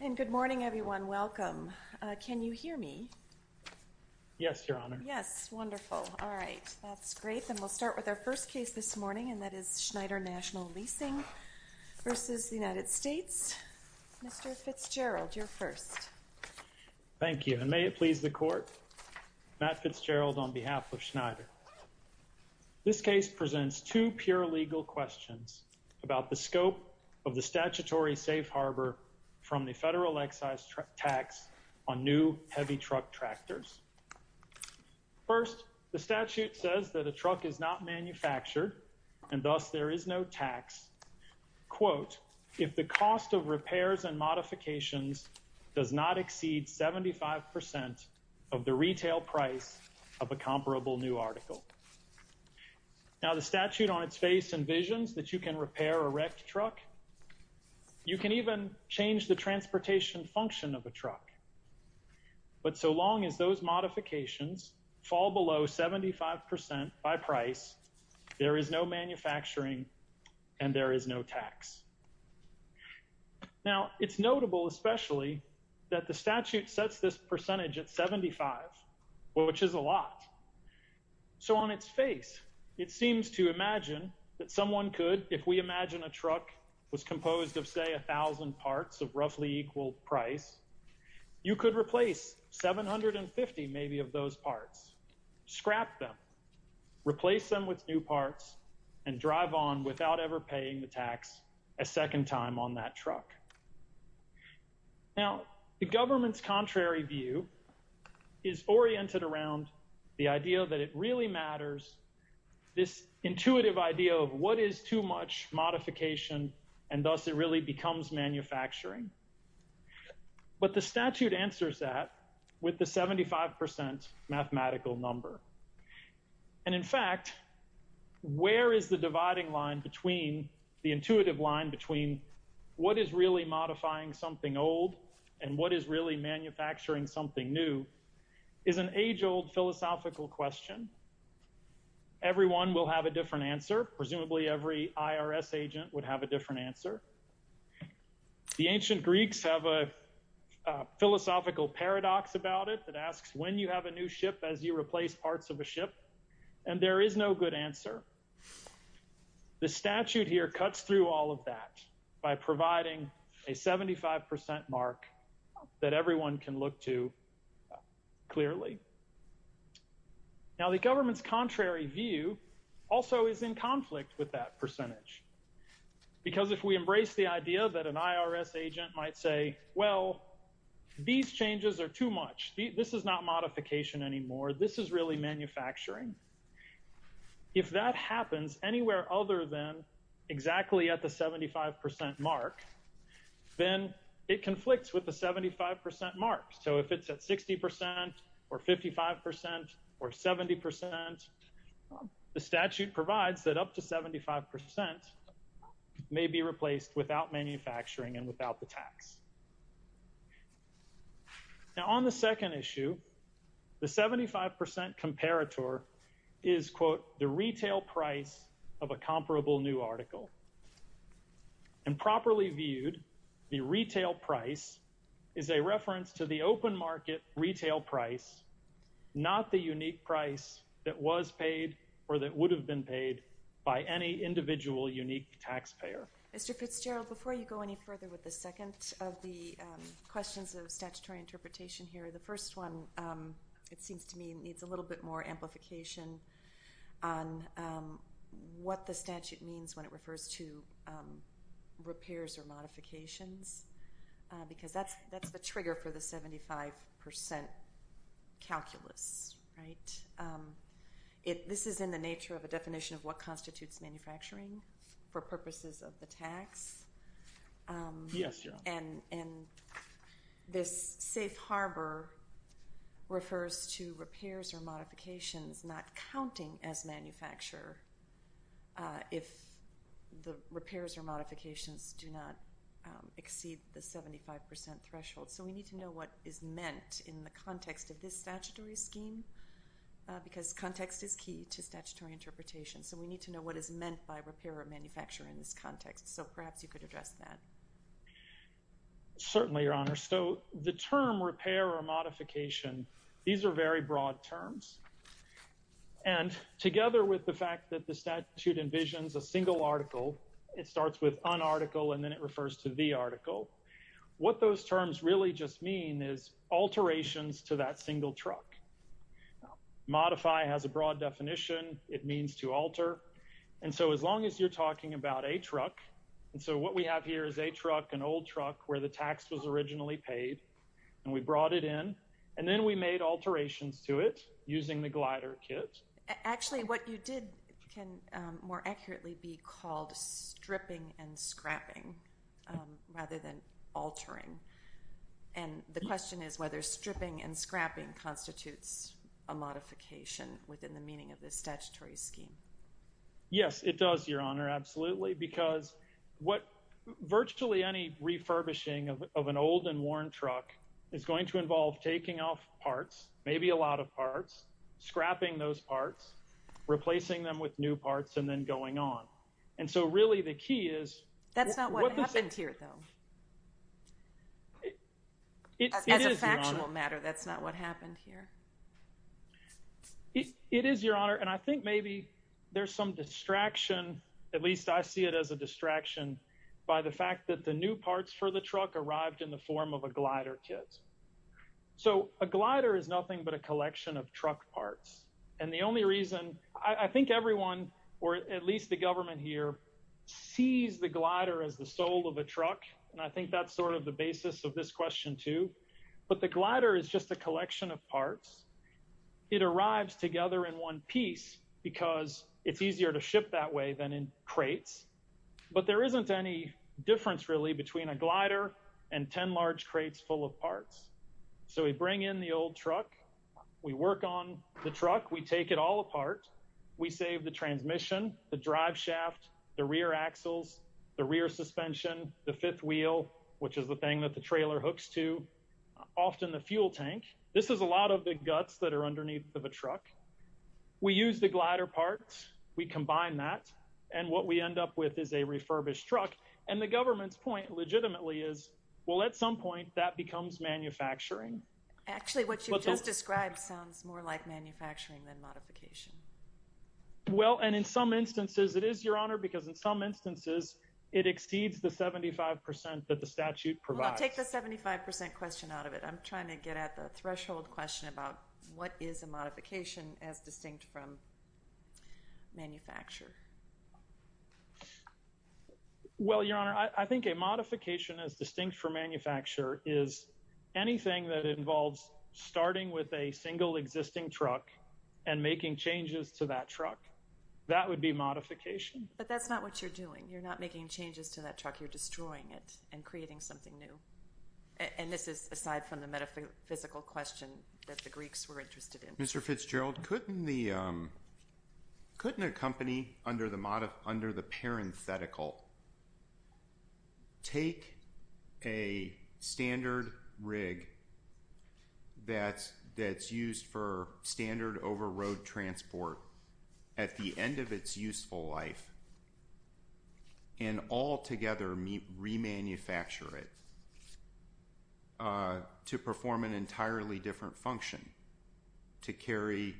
and good morning everyone welcome can you hear me yes your honor yes wonderful all right that's great then we'll start with our first case this morning and that is Schneider National Leasing versus the United States mr. Fitzgerald your first thank you and may it please the court Matt Fitzgerald on behalf of Schneider this case presents two pure legal questions about the scope of the statutory safe harbor from the federal excise tax on new heavy truck tractors first the statute says that a truck is not manufactured and thus there is no tax quote if the cost of repairs and modifications does not exceed 75% of the retail price of a comparable new article now the statute on its face envisions that you can repair a wrecked truck you can even change the transportation function of a truck but so long as those modifications fall below 75% by price there is no manufacturing and there is no tax now it's notable especially that the statute sets this percentage at 75 which is a lot so on its face it seems to imagine that someone could if we imagine a truck was composed of say a thousand parts of roughly equal price you could replace 750 maybe of those parts scrap them replace them with new parts and drive on without ever paying the tax a second time on that truck now the government's contrary view is oriented around the idea that it really matters this intuitive idea of what is too much modification and thus it really becomes manufacturing but the statute answers that with the 75% mathematical number and in fact where is the dividing line between the intuitive modifying something old and what is really manufacturing something new is an age-old philosophical question everyone will have a different answer presumably every IRS agent would have a different answer the ancient Greeks have a philosophical paradox about it that asks when you have a new ship as you replace parts of a ship and there is no good answer the statute here cuts through all of that by providing a 75% mark that everyone can look to clearly now the government's contrary view also is in conflict with that percentage because if we embrace the idea that an IRS agent might say well these changes are too much this is not modification anymore this is really manufacturing if that 75% mark then it conflicts with the 75% mark so if it's at 60% or 55% or 70% the statute provides that up to 75% may be replaced without manufacturing and without the tax now on the second issue the 75% comparator is quote the retail price of a comparable new article and properly viewed the retail price is a reference to the open market retail price not the unique price that was paid or that would have been paid by any individual unique taxpayer before you go any further with the second of the questions of statutory interpretation here the first one it seems to me needs a little bit more amplification on what the statute means when it refers to repairs or modifications because that's that's the trigger for the 75% calculus right it this is in the nature of a definition of what constitutes manufacturing for purposes of the tax yes and and this safe harbor refers to repairs or modifications not counting as manufacturer if the repairs or modifications do not exceed the 75% threshold so we need to know what is meant in the context of this statutory scheme because context is key to statutory interpretation so we need to know what is meant by repair or manufacture in this context so perhaps you could address that certainly your honor so the term repair or modification these are very broad terms and together with the fact that the statute envisions a single article it starts with an article and then it refers to the article what those terms really just mean is alterations to that single truck modify has a broad definition it means to alter and so as long as you're what we have here is a truck an old truck where the tax was originally paid and we brought it in and then we made alterations to it using the glider kit actually what you did can more accurately be called stripping and scrapping rather than altering and the question is whether stripping and scrapping constitutes a modification within the meaning of this statutory scheme yes it does your honor absolutely because what virtually any refurbishing of an old and worn truck is going to involve taking off parts maybe a lot of parts scrapping those parts replacing them with new parts and then going on and so really the key is that's not what happened here though it is a matter that's not what happened here it is your honor and I think maybe there's some distraction at least I see it as a distraction by the fact that the new parts for the truck arrived in the form of a glider kit so a glider is nothing but a collection of truck parts and the only reason I think everyone or at least the government here sees the glider as the soul of a truck and I think that's sort of the basis of this question too but the glider is just a collection of parts it arrives together in one piece because it's easier to ship that way than in crates but there isn't any difference really between a glider and ten large crates full of parts so we bring in the old truck we work on the truck we take it all apart we save the transmission the driveshaft the rear axles the rear suspension the fifth wheel which is the thing that the trailer hooks to often the fuel tank this is a lot of big guts that are underneath of a truck we use the glider parts we combine that and what we end up with is a refurbished truck and the government's point legitimately is well at some point that becomes manufacturing actually what you just described sounds more like manufacturing than modification well and in some instances it exceeds the 75% that the statute provides a 75% question out of it I'm trying to get at the threshold question about what is a modification as distinct from manufacture well your honor I think a modification as distinct from manufacture is anything that involves starting with a single existing truck and making changes to that truck that would be modification but that's not what you're doing you're not making changes to that truck you're destroying it and creating something new and this is aside from the metaphysical question that the Greeks were interested in mr. Fitzgerald couldn't the couldn't a company under the modif under the parenthetical take a standard rig that that's used for standard over road transport at the end of its useful life and altogether meet remanufacture it to perform an entirely different function to carry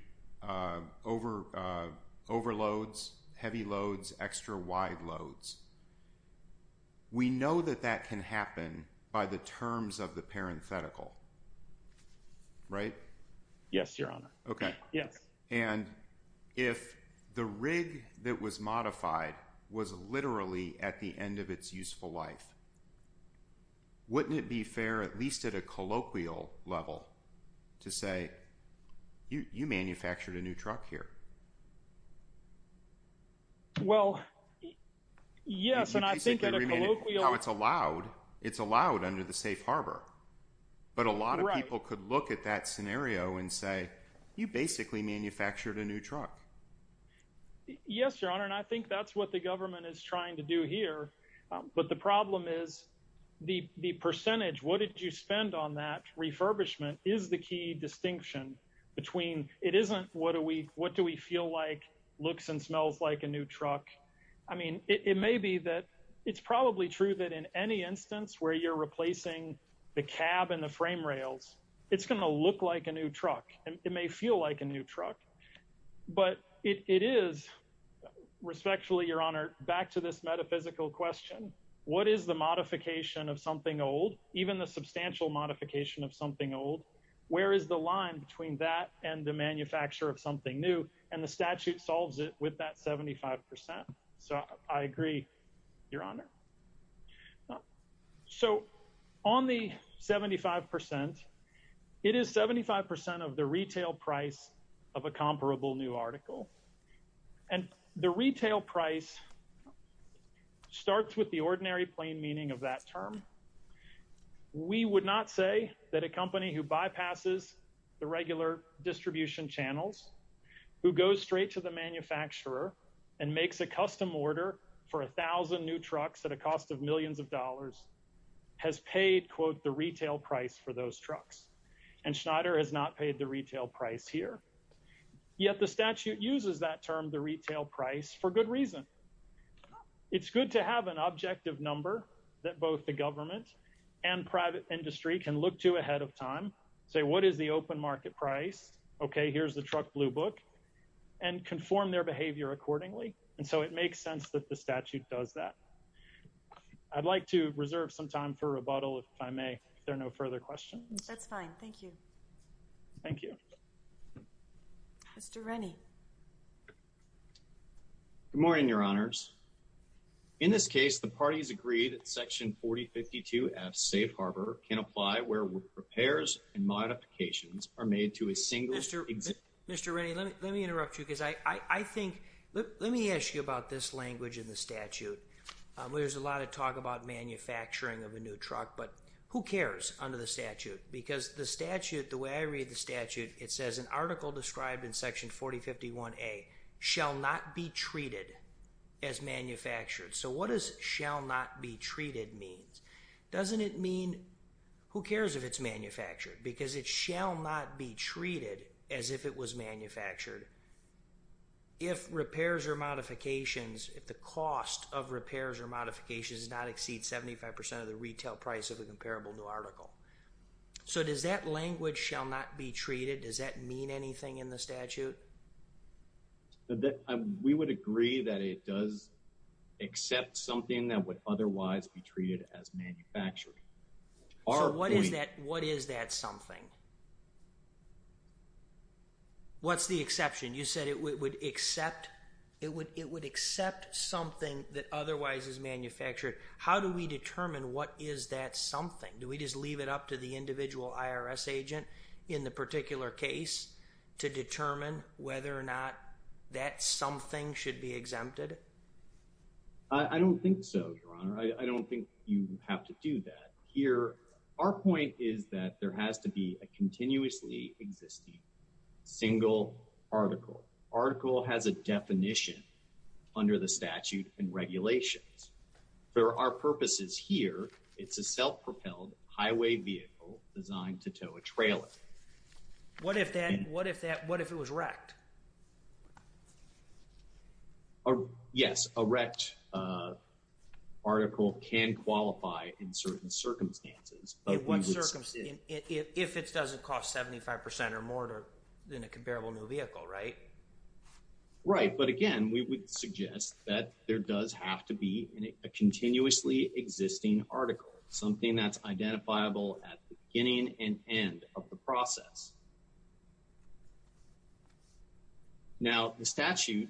over overloads heavy loads extra wide loads we know that that can by the terms of the parenthetical right yes your honor okay yes and if the rig that was modified was literally at the end of its useful life wouldn't it be fair at least at a colloquial level to say you manufactured a new truck here well yes and I think it's allowed it's allowed under the safe harbor but a lot of people could look at that scenario and say you basically manufactured a new truck yes your honor and I think that's what the government is trying to do here but the problem is the percentage what did you spend on that refurbishment is the key distinction between it isn't what do we what do we feel like looks and smells like a new truck I mean it may be that it's probably true that in any instance where you're replacing the cab and the frame rails it's gonna look like a new truck and it may feel like a new truck but it is respectfully your honor back to this metaphysical question what is the modification of something old even the substantial modification of something old where is the line between that and the manufacturer of something new and the statute solves it with that 75% so I agree your honor so on the 75% it is 75% of the retail price of a comparable new article and the retail price starts with the ordinary plain meaning of that term we would not say that a company who bypasses the regular distribution channels who goes straight to the manufacturer and makes a custom order for a thousand new trucks at a cost of millions of dollars has paid quote the retail price for those trucks and Schneider has not paid the retail price here yet the statute uses that term the retail price for good reason it's good to have an objective number that both the government and private industry can look to ahead of time say what is the open market price okay here's the truck blue book and conform their behavior accordingly and so it makes sense that the statute does that I'd like to reserve some time for rebuttal if I may there no further questions thank you thank you mr. Rennie good morning your honors in this case the parties agreed at section 4052 F safe harbor can apply where repairs and modifications are made to a single mr. mr. Ray let me interrupt you because I I think let me ask you about this language in the statute there's a lot of talk about manufacturing of a new truck but who cares under the statute because the it says an article described in section 4051 a shall not be treated as manufactured so what is shall not be treated means doesn't it mean who cares if it's manufactured because it shall not be treated as if it was manufactured if repairs or modifications if the cost of repairs or modifications does not exceed 75% of the retail price of a comparable new article so does that language shall not be treated does that mean anything in the statute that we would agree that it does accept something that would otherwise be treated as manufactured or what is that what is that something what's the exception you said it would accept it would it would accept something that otherwise is manufactured how do we determine what is that something do we just leave it up to the individual IRS agent in the particular case to determine whether or not that something should be exempted I don't think so I don't think you have to do that here our point is that there has to be a continuously existing single article article has a definition under the statute and highway vehicle designed to tow a trailer what if that what if that what if it was wrecked or yes a wrecked article can qualify in certain circumstances but what circumstances if it doesn't cost 75% or more than a comparable new vehicle right right but again we would suggest that there does have to be in a continuously existing article something that's identifiable at beginning and end of the process now the statute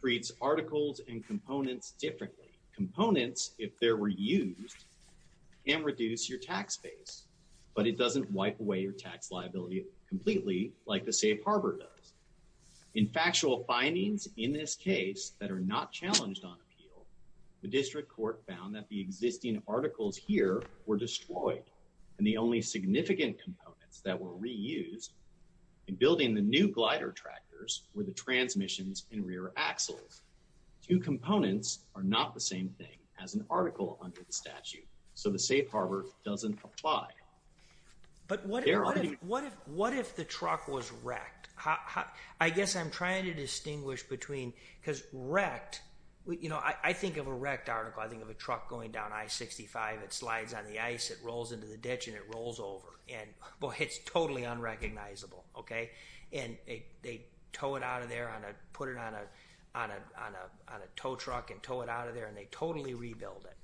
treats articles and components differently components if there were used and reduce your tax base but it doesn't wipe away your tax liability completely like the safe does in factual findings in this case that are not challenged on appeal the district court found that the existing articles here were destroyed and the only significant components that were reused in building the new glider tractors were the transmissions in rear axles two components are not the same thing as an article under the statute so the safe harbor doesn't apply but what what if the truck was wrecked I guess I'm trying to distinguish between because wrecked you know I think of a wrecked article I think of a truck going down I 65 it slides on the ice it rolls into the ditch and it rolls over and well hits totally unrecognizable okay and they tow it out of there on a put it on a on a tow truck and tow it out of there and they totally rebuild it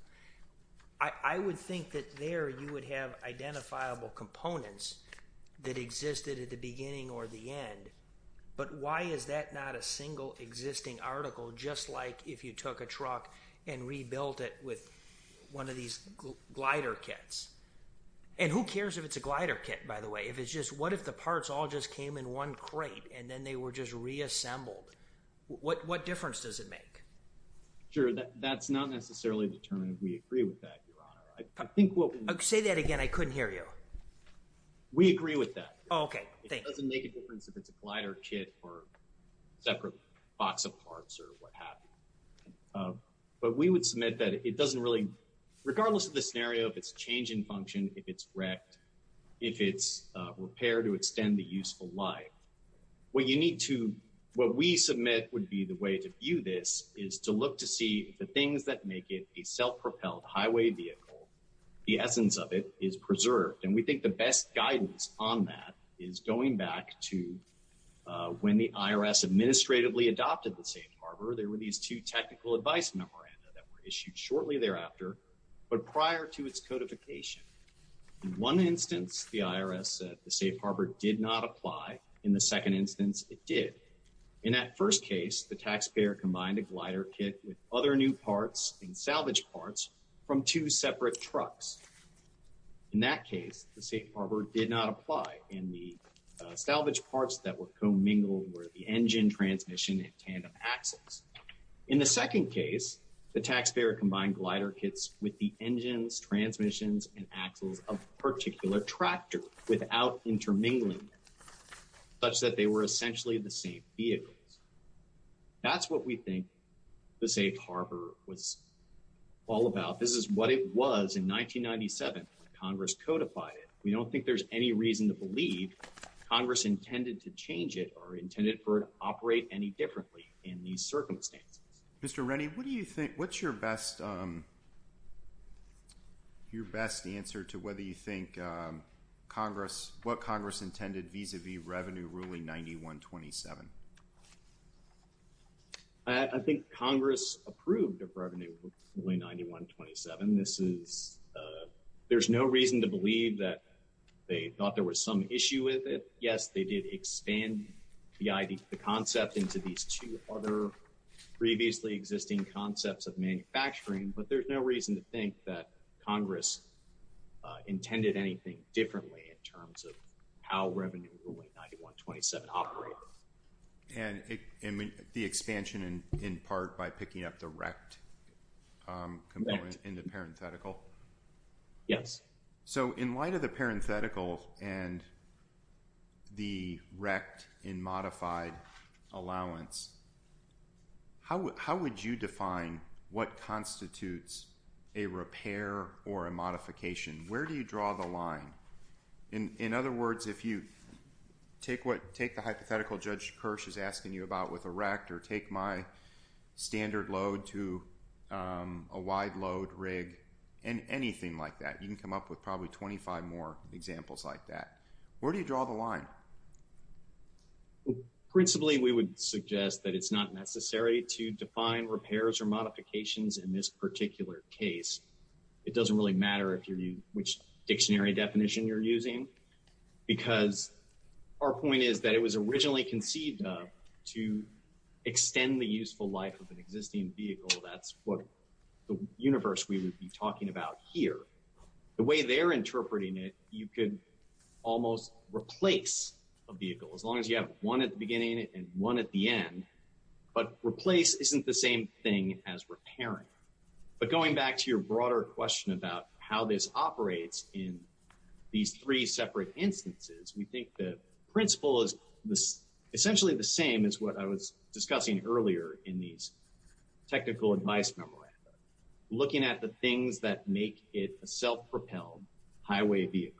I would think that there you would have identifiable components that existed at the beginning or the end but why is that not a single existing article just like if you took a truck and rebuilt it with one of these glider kits and who cares if it's a glider kit by the way if it's just what if the parts all just came in one crate and then they were just reassembled what what difference does it make sure that that's not necessarily determined we agree with that I think what say that again I couldn't hear you we agree with that okay it's a glider kit or separate box of parts or what happened but we would submit that it doesn't really regardless of the scenario if it's change in function if it's wrecked if it's repair to extend the useful life what you need to what we submit would be the way to view this is to look to see the things that make it a self-propelled highway vehicle the essence of it is preserved and we think the best guidance on that is going back to when the IRS administratively adopted the safe harbor there were these two technical advice memoranda that were issued shortly thereafter but prior to its codification in one instance the IRS the safe harbor did not apply in the second instance it did in that first case the taxpayer combined a glider kit with other new parts and salvage parts from two separate trucks in that case the safe harbor did not apply in the salvage parts that were commingled where the engine transmission and tandem axles in the second case the taxpayer combined glider kits with the engines transmissions and axles of particular tractor without intermingling such that they were essentially the same vehicles that's what we think the safe harbor was all about this is what it was in 1997 Congress codified it we don't think there's any reason to believe Congress intended to change it or intended for it operate any differently in these circumstances mr. Rennie what do you think what's your best your best answer to whether you think Congress what Congress intended vis-a-vis revenue ruling 9127 I think Congress approved of revenue ruling 9127 this is there's no reason to believe that they thought there was some issue with it yes they did expand the idea to the concept into these two other previously existing concepts of manufacturing but there's no reason to think that Congress intended anything differently in terms of how revenue ruling 9127 operate and the expansion and in part by picking up the rect component in the parenthetical yes so in light of the parenthetical and the rect in modified allowance how would how would you define what constitutes a repair or a modification where do you draw the line in in other words if you take what take the hypothetical judge Kirsch is asking you about with a rect or take my standard load to a wide load rig and anything like that you can come up with probably 25 more examples like that where do you draw the line principally we would suggest that it's not necessary to define repairs or modifications in this particular case it would be helpful to have a dictionary definition you're using because our point is that it was originally conceived to extend the useful life of an existing vehicle that's what the universe we would be talking about here the way they're interpreting it you could almost replace a vehicle as long as you have one at the beginning and one at the end but replace isn't the same thing as repairing but going back to your broader question about how this operates in these three separate instances we think the principle is this essentially the same as what I was discussing earlier in these technical advice memoranda looking at the things that make it a self-propelled highway vehicle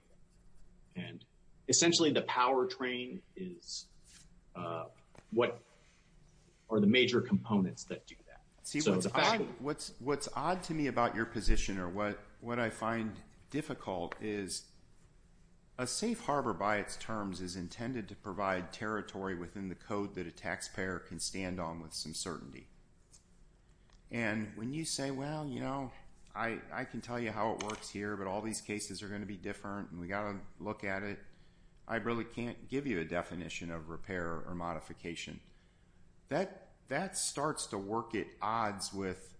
and essentially the powertrain is what are the major components that do that see what's what's what's odd to me about your position or what what I find difficult is a safe harbor by its terms is intended to provide territory within the code that a taxpayer can stand on with some certainty and when you say well you know I I can tell you how it works here but all these cases are going to be different and we got a look at it I really can't give you a definition of odds with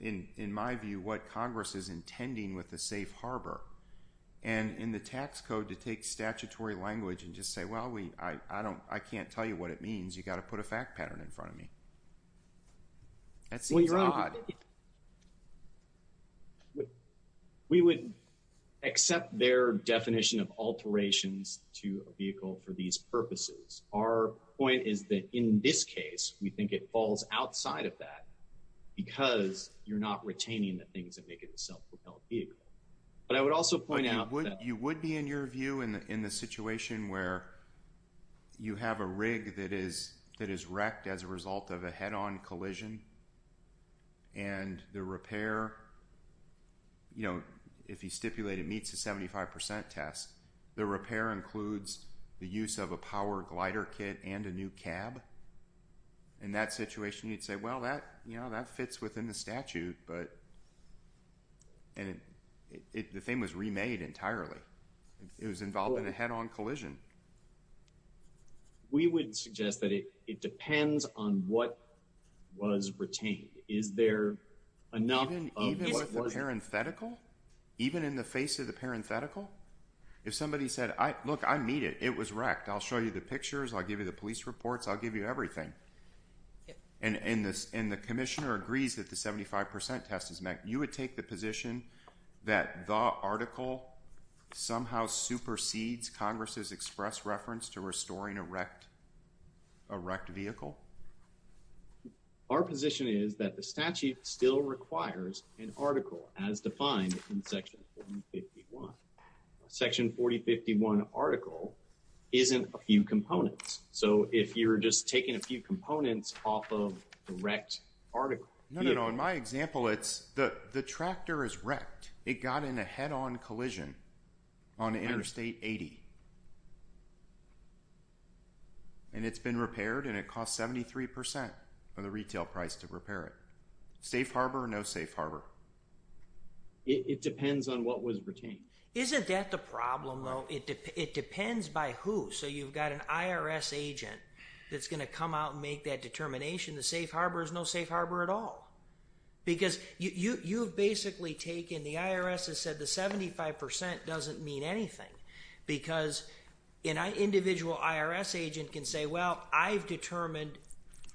in in my view what Congress is intending with the safe harbor and in the tax code to take statutory language and just say well we I don't I can't tell you what it means you got to put a fact pattern in front of me that's when you're on we would accept their definition of alterations to a vehicle for these purposes our point is that in this case we think it falls outside of that because you're not retaining the things that make it a self-propelled vehicle but I would also point out what you would be in your view in the in the situation where you have a rig that is that is wrecked as a result of a head-on collision and the repair you know if he stipulated meets a 75% test the repair includes the use of a power glider kit and a new cab in that situation you'd say well that you know that fits within the statute but and it the thing was remade entirely it was involved in a head-on collision we would suggest that it it depends on what was retained is there enough of a parenthetical even in the face of the parenthetical if somebody said I look I meet it it was wrecked I'll show you the pictures I'll give you the police reports I'll give you everything and in this in the Commissioner agrees that the 75% test is met you would take the position that the article somehow supersedes Congress's express reference to restoring a wrecked a wrecked vehicle our position is that the statute still requires an article as defined in section section 4051 article isn't a few components so if you're just taking a few components off of the wrecked article no no in my example it's the the tractor is wrecked it got in a head-on collision on interstate 80 and it's been repaired and it cost 73% of the retail price to repair it safe harbor no safe harbor it depends on what was retained isn't that the problem though it depends by who so you've got an IRS agent that's going to come out and make that determination the safe harbor is no safe harbor at all because you you've basically taken the IRS has said the 75% doesn't mean anything because in I individual IRS agent can say well I've determined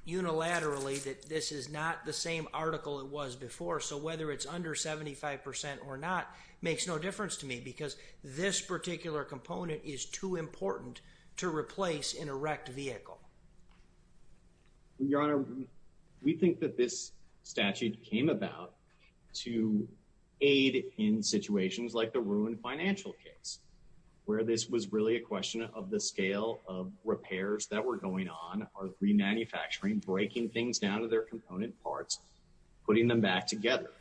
unilaterally that this is not the same article it was before so whether it's under 75% or not makes no difference to me because this particular component is too important to replace in a wrecked vehicle your honor we think that this statute came about to aid in situations like the ruin financial case where this was really a question of the scale of repairs that were going on are three manufacturing breaking things down to their component parts putting them back together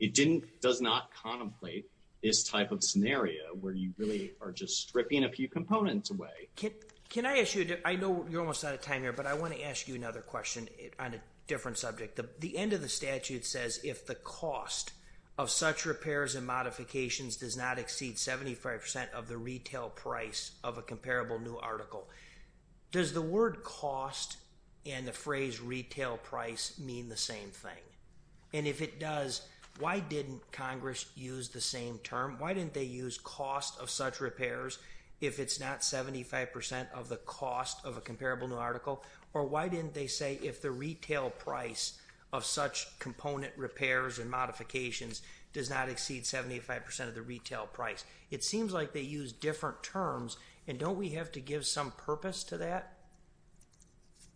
it didn't does not contemplate this type of scenario where you really are just stripping a few components away kit can I issued it I know you're almost out of time here but I want to ask you another question on a different subject the end of the statute says if the cost of such repairs and modifications does not exceed 75% of the retail price of a comparable new article does the word cost and the phrase retail price mean the same thing and if it does why didn't Congress use the same term why didn't they use cost of such repairs if it's not 75% of the cost of a comparable new article or why didn't they say if the retail price of such component repairs and modifications does not exceed 75% of the retail price it seems like they use different terms and don't we have to give some purpose to that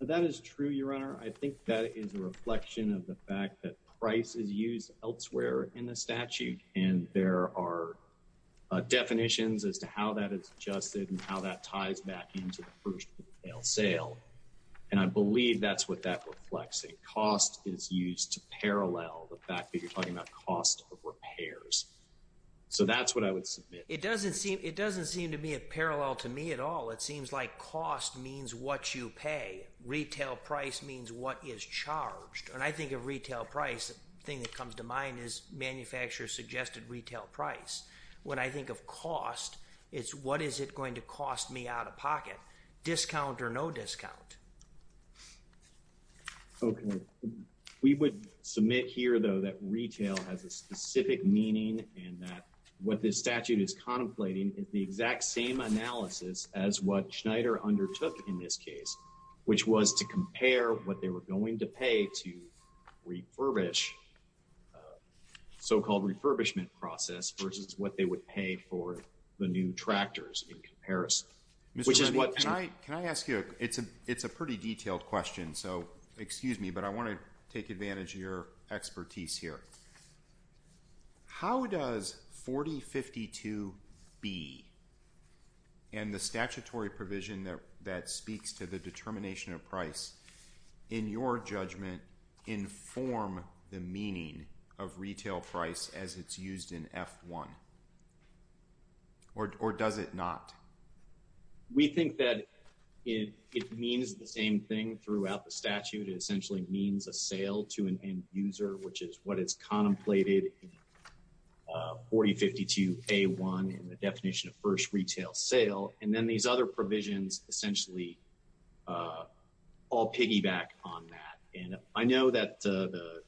that is true your honor I think that is a reflection of the fact that price is used elsewhere in the statute and there are definitions as to how that is adjusted and how that ties back into the first sale and I believe that's what that reflects a cost is used to parallel the fact that you're talking about cost repairs so that's what I would submit it at all it seems like cost means what you pay retail price means what is charged and I think of retail price the thing that comes to mind is manufacturers suggested retail price when I think of cost it's what is it going to cost me out-of-pocket discount or no discount okay we would submit here though that retail has a specific meaning and that what this statute is contemplating is the exact same analysis as what Schneider undertook in this case which was to compare what they were going to pay to refurbish so-called refurbishment process versus what they would pay for the new tractors in comparison which is what can I can I ask you it's a it's a pretty detailed question so excuse me but I want to take advantage of your expertise here how does 4052 be and the statutory provision that that speaks to the determination of price in your judgment inform the meaning of retail price as it's used in f1 or does it not we think that it means the same thing throughout the statute it essentially means a sale to an end-user which is what it's contemplated 4052 a1 in the definition of first retail sale and then these other provisions essentially all piggyback on that and I know that the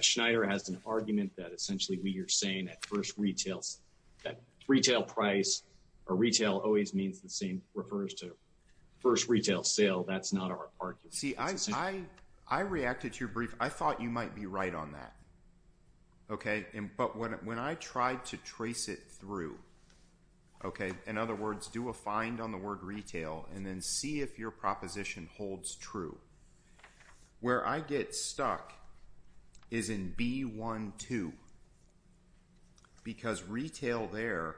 Schneider has an argument that essentially we are saying at first retails that retail price or retail always means the same refers to first retail sale that's not our part you see I I reacted to your brief I thought you might be right on that okay but when I tried to trace it through okay in other words do a find on the word retail and then see if your proposition holds true where I get stuck is in b12 because retail there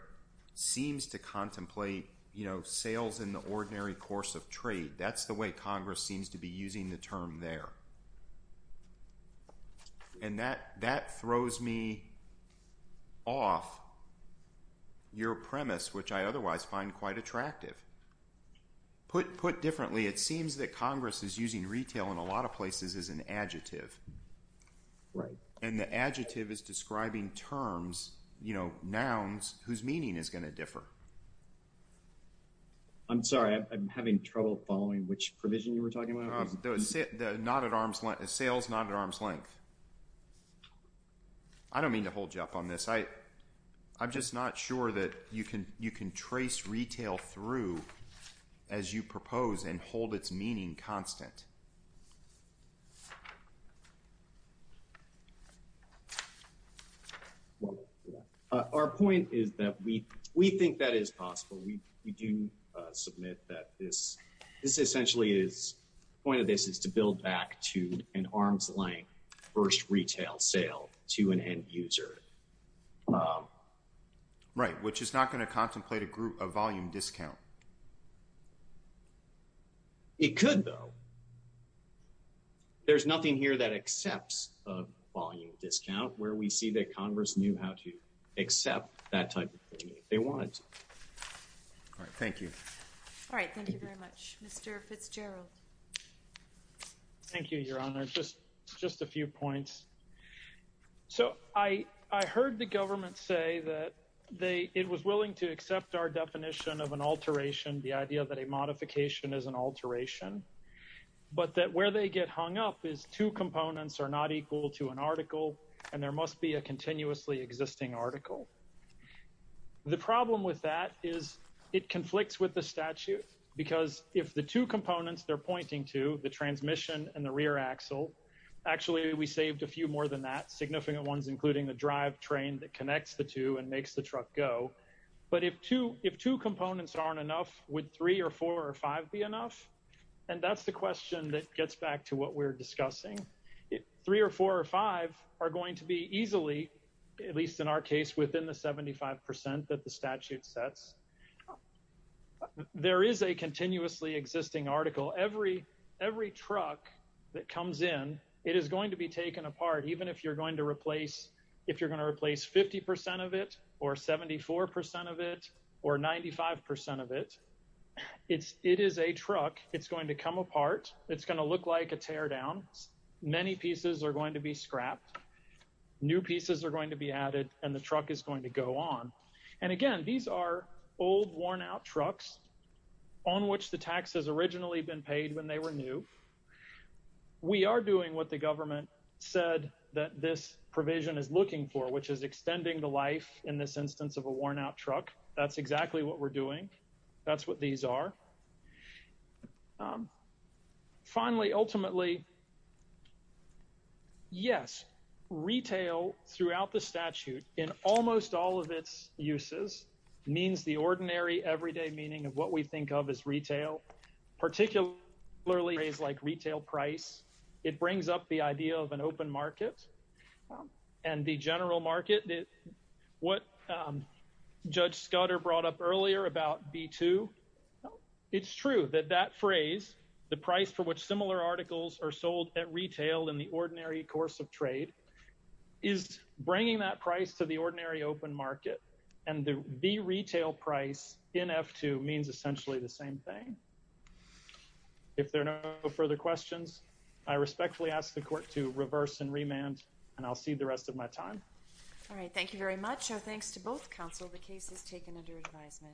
seems to contemplate you know sales in the ordinary course of trade that's the way Congress seems to using the term there and that that throws me off your premise which I otherwise find quite attractive put put differently it seems that Congress is using retail in a lot of places as an adjective right and the adjective is describing terms you know nouns whose meaning is going to differ I'm sorry I'm not at arm's length the sales not at arm's length I don't mean to hold you up on this I I'm just not sure that you can you can trace retail through as you propose and hold its meaning constant our point is that we we think that is possible we do submit that this is essentially is point of this is to build back to an arm's-length first retail sale to an end-user right which is not going to contemplate a group of volume discount it could though there's nothing here that accepts a volume discount where we see that Congress knew how to accept that type of thing if they all right thank you all right thank you very much mr. Fitzgerald thank you your honor just just a few points so I I heard the government say that they it was willing to accept our definition of an alteration the idea that a modification is an alteration but that where they get hung up is two components are not equal to an article and there must be a continuously existing article the problem with that is it conflicts with the statute because if the two components they're pointing to the transmission and the rear axle actually we saved a few more than that significant ones including the drive train that connects the two and makes the truck go but if two if two components aren't enough with three or four or five be enough and that's the question that gets back to what we're discussing it three or four or five are going to be easily at least in our case within the 75% that the statute sets there is a continuously existing article every every truck that comes in it is going to be taken apart even if you're going to replace if you're going to replace 50% of it or 74% of it or 95% of it it's it is a truck it's going to come apart it's going to look like a teardown many pieces are going to be scrapped new pieces are going to be added and the truck is going to go on and again these are old worn-out trucks on which the tax has originally been paid when they were new we are doing what the government said that this provision is looking for which is extending the life in this instance of a worn-out truck that's exactly what we're doing that's what these are finally ultimately yes retail throughout the statute in almost all of its uses means the ordinary everyday meaning of what we think of as retail particularly is like retail price it brings up the idea of an open market and the general market did what judge Scudder brought up earlier about b2 it's true that that phrase the price for which similar articles are sold at retail in the ordinary course of trade is bringing that price to the ordinary open market and the retail price in f2 means essentially the same thing if there are no further questions I respectfully ask the court to reverse and remand and I'll see the rest of my time all right thank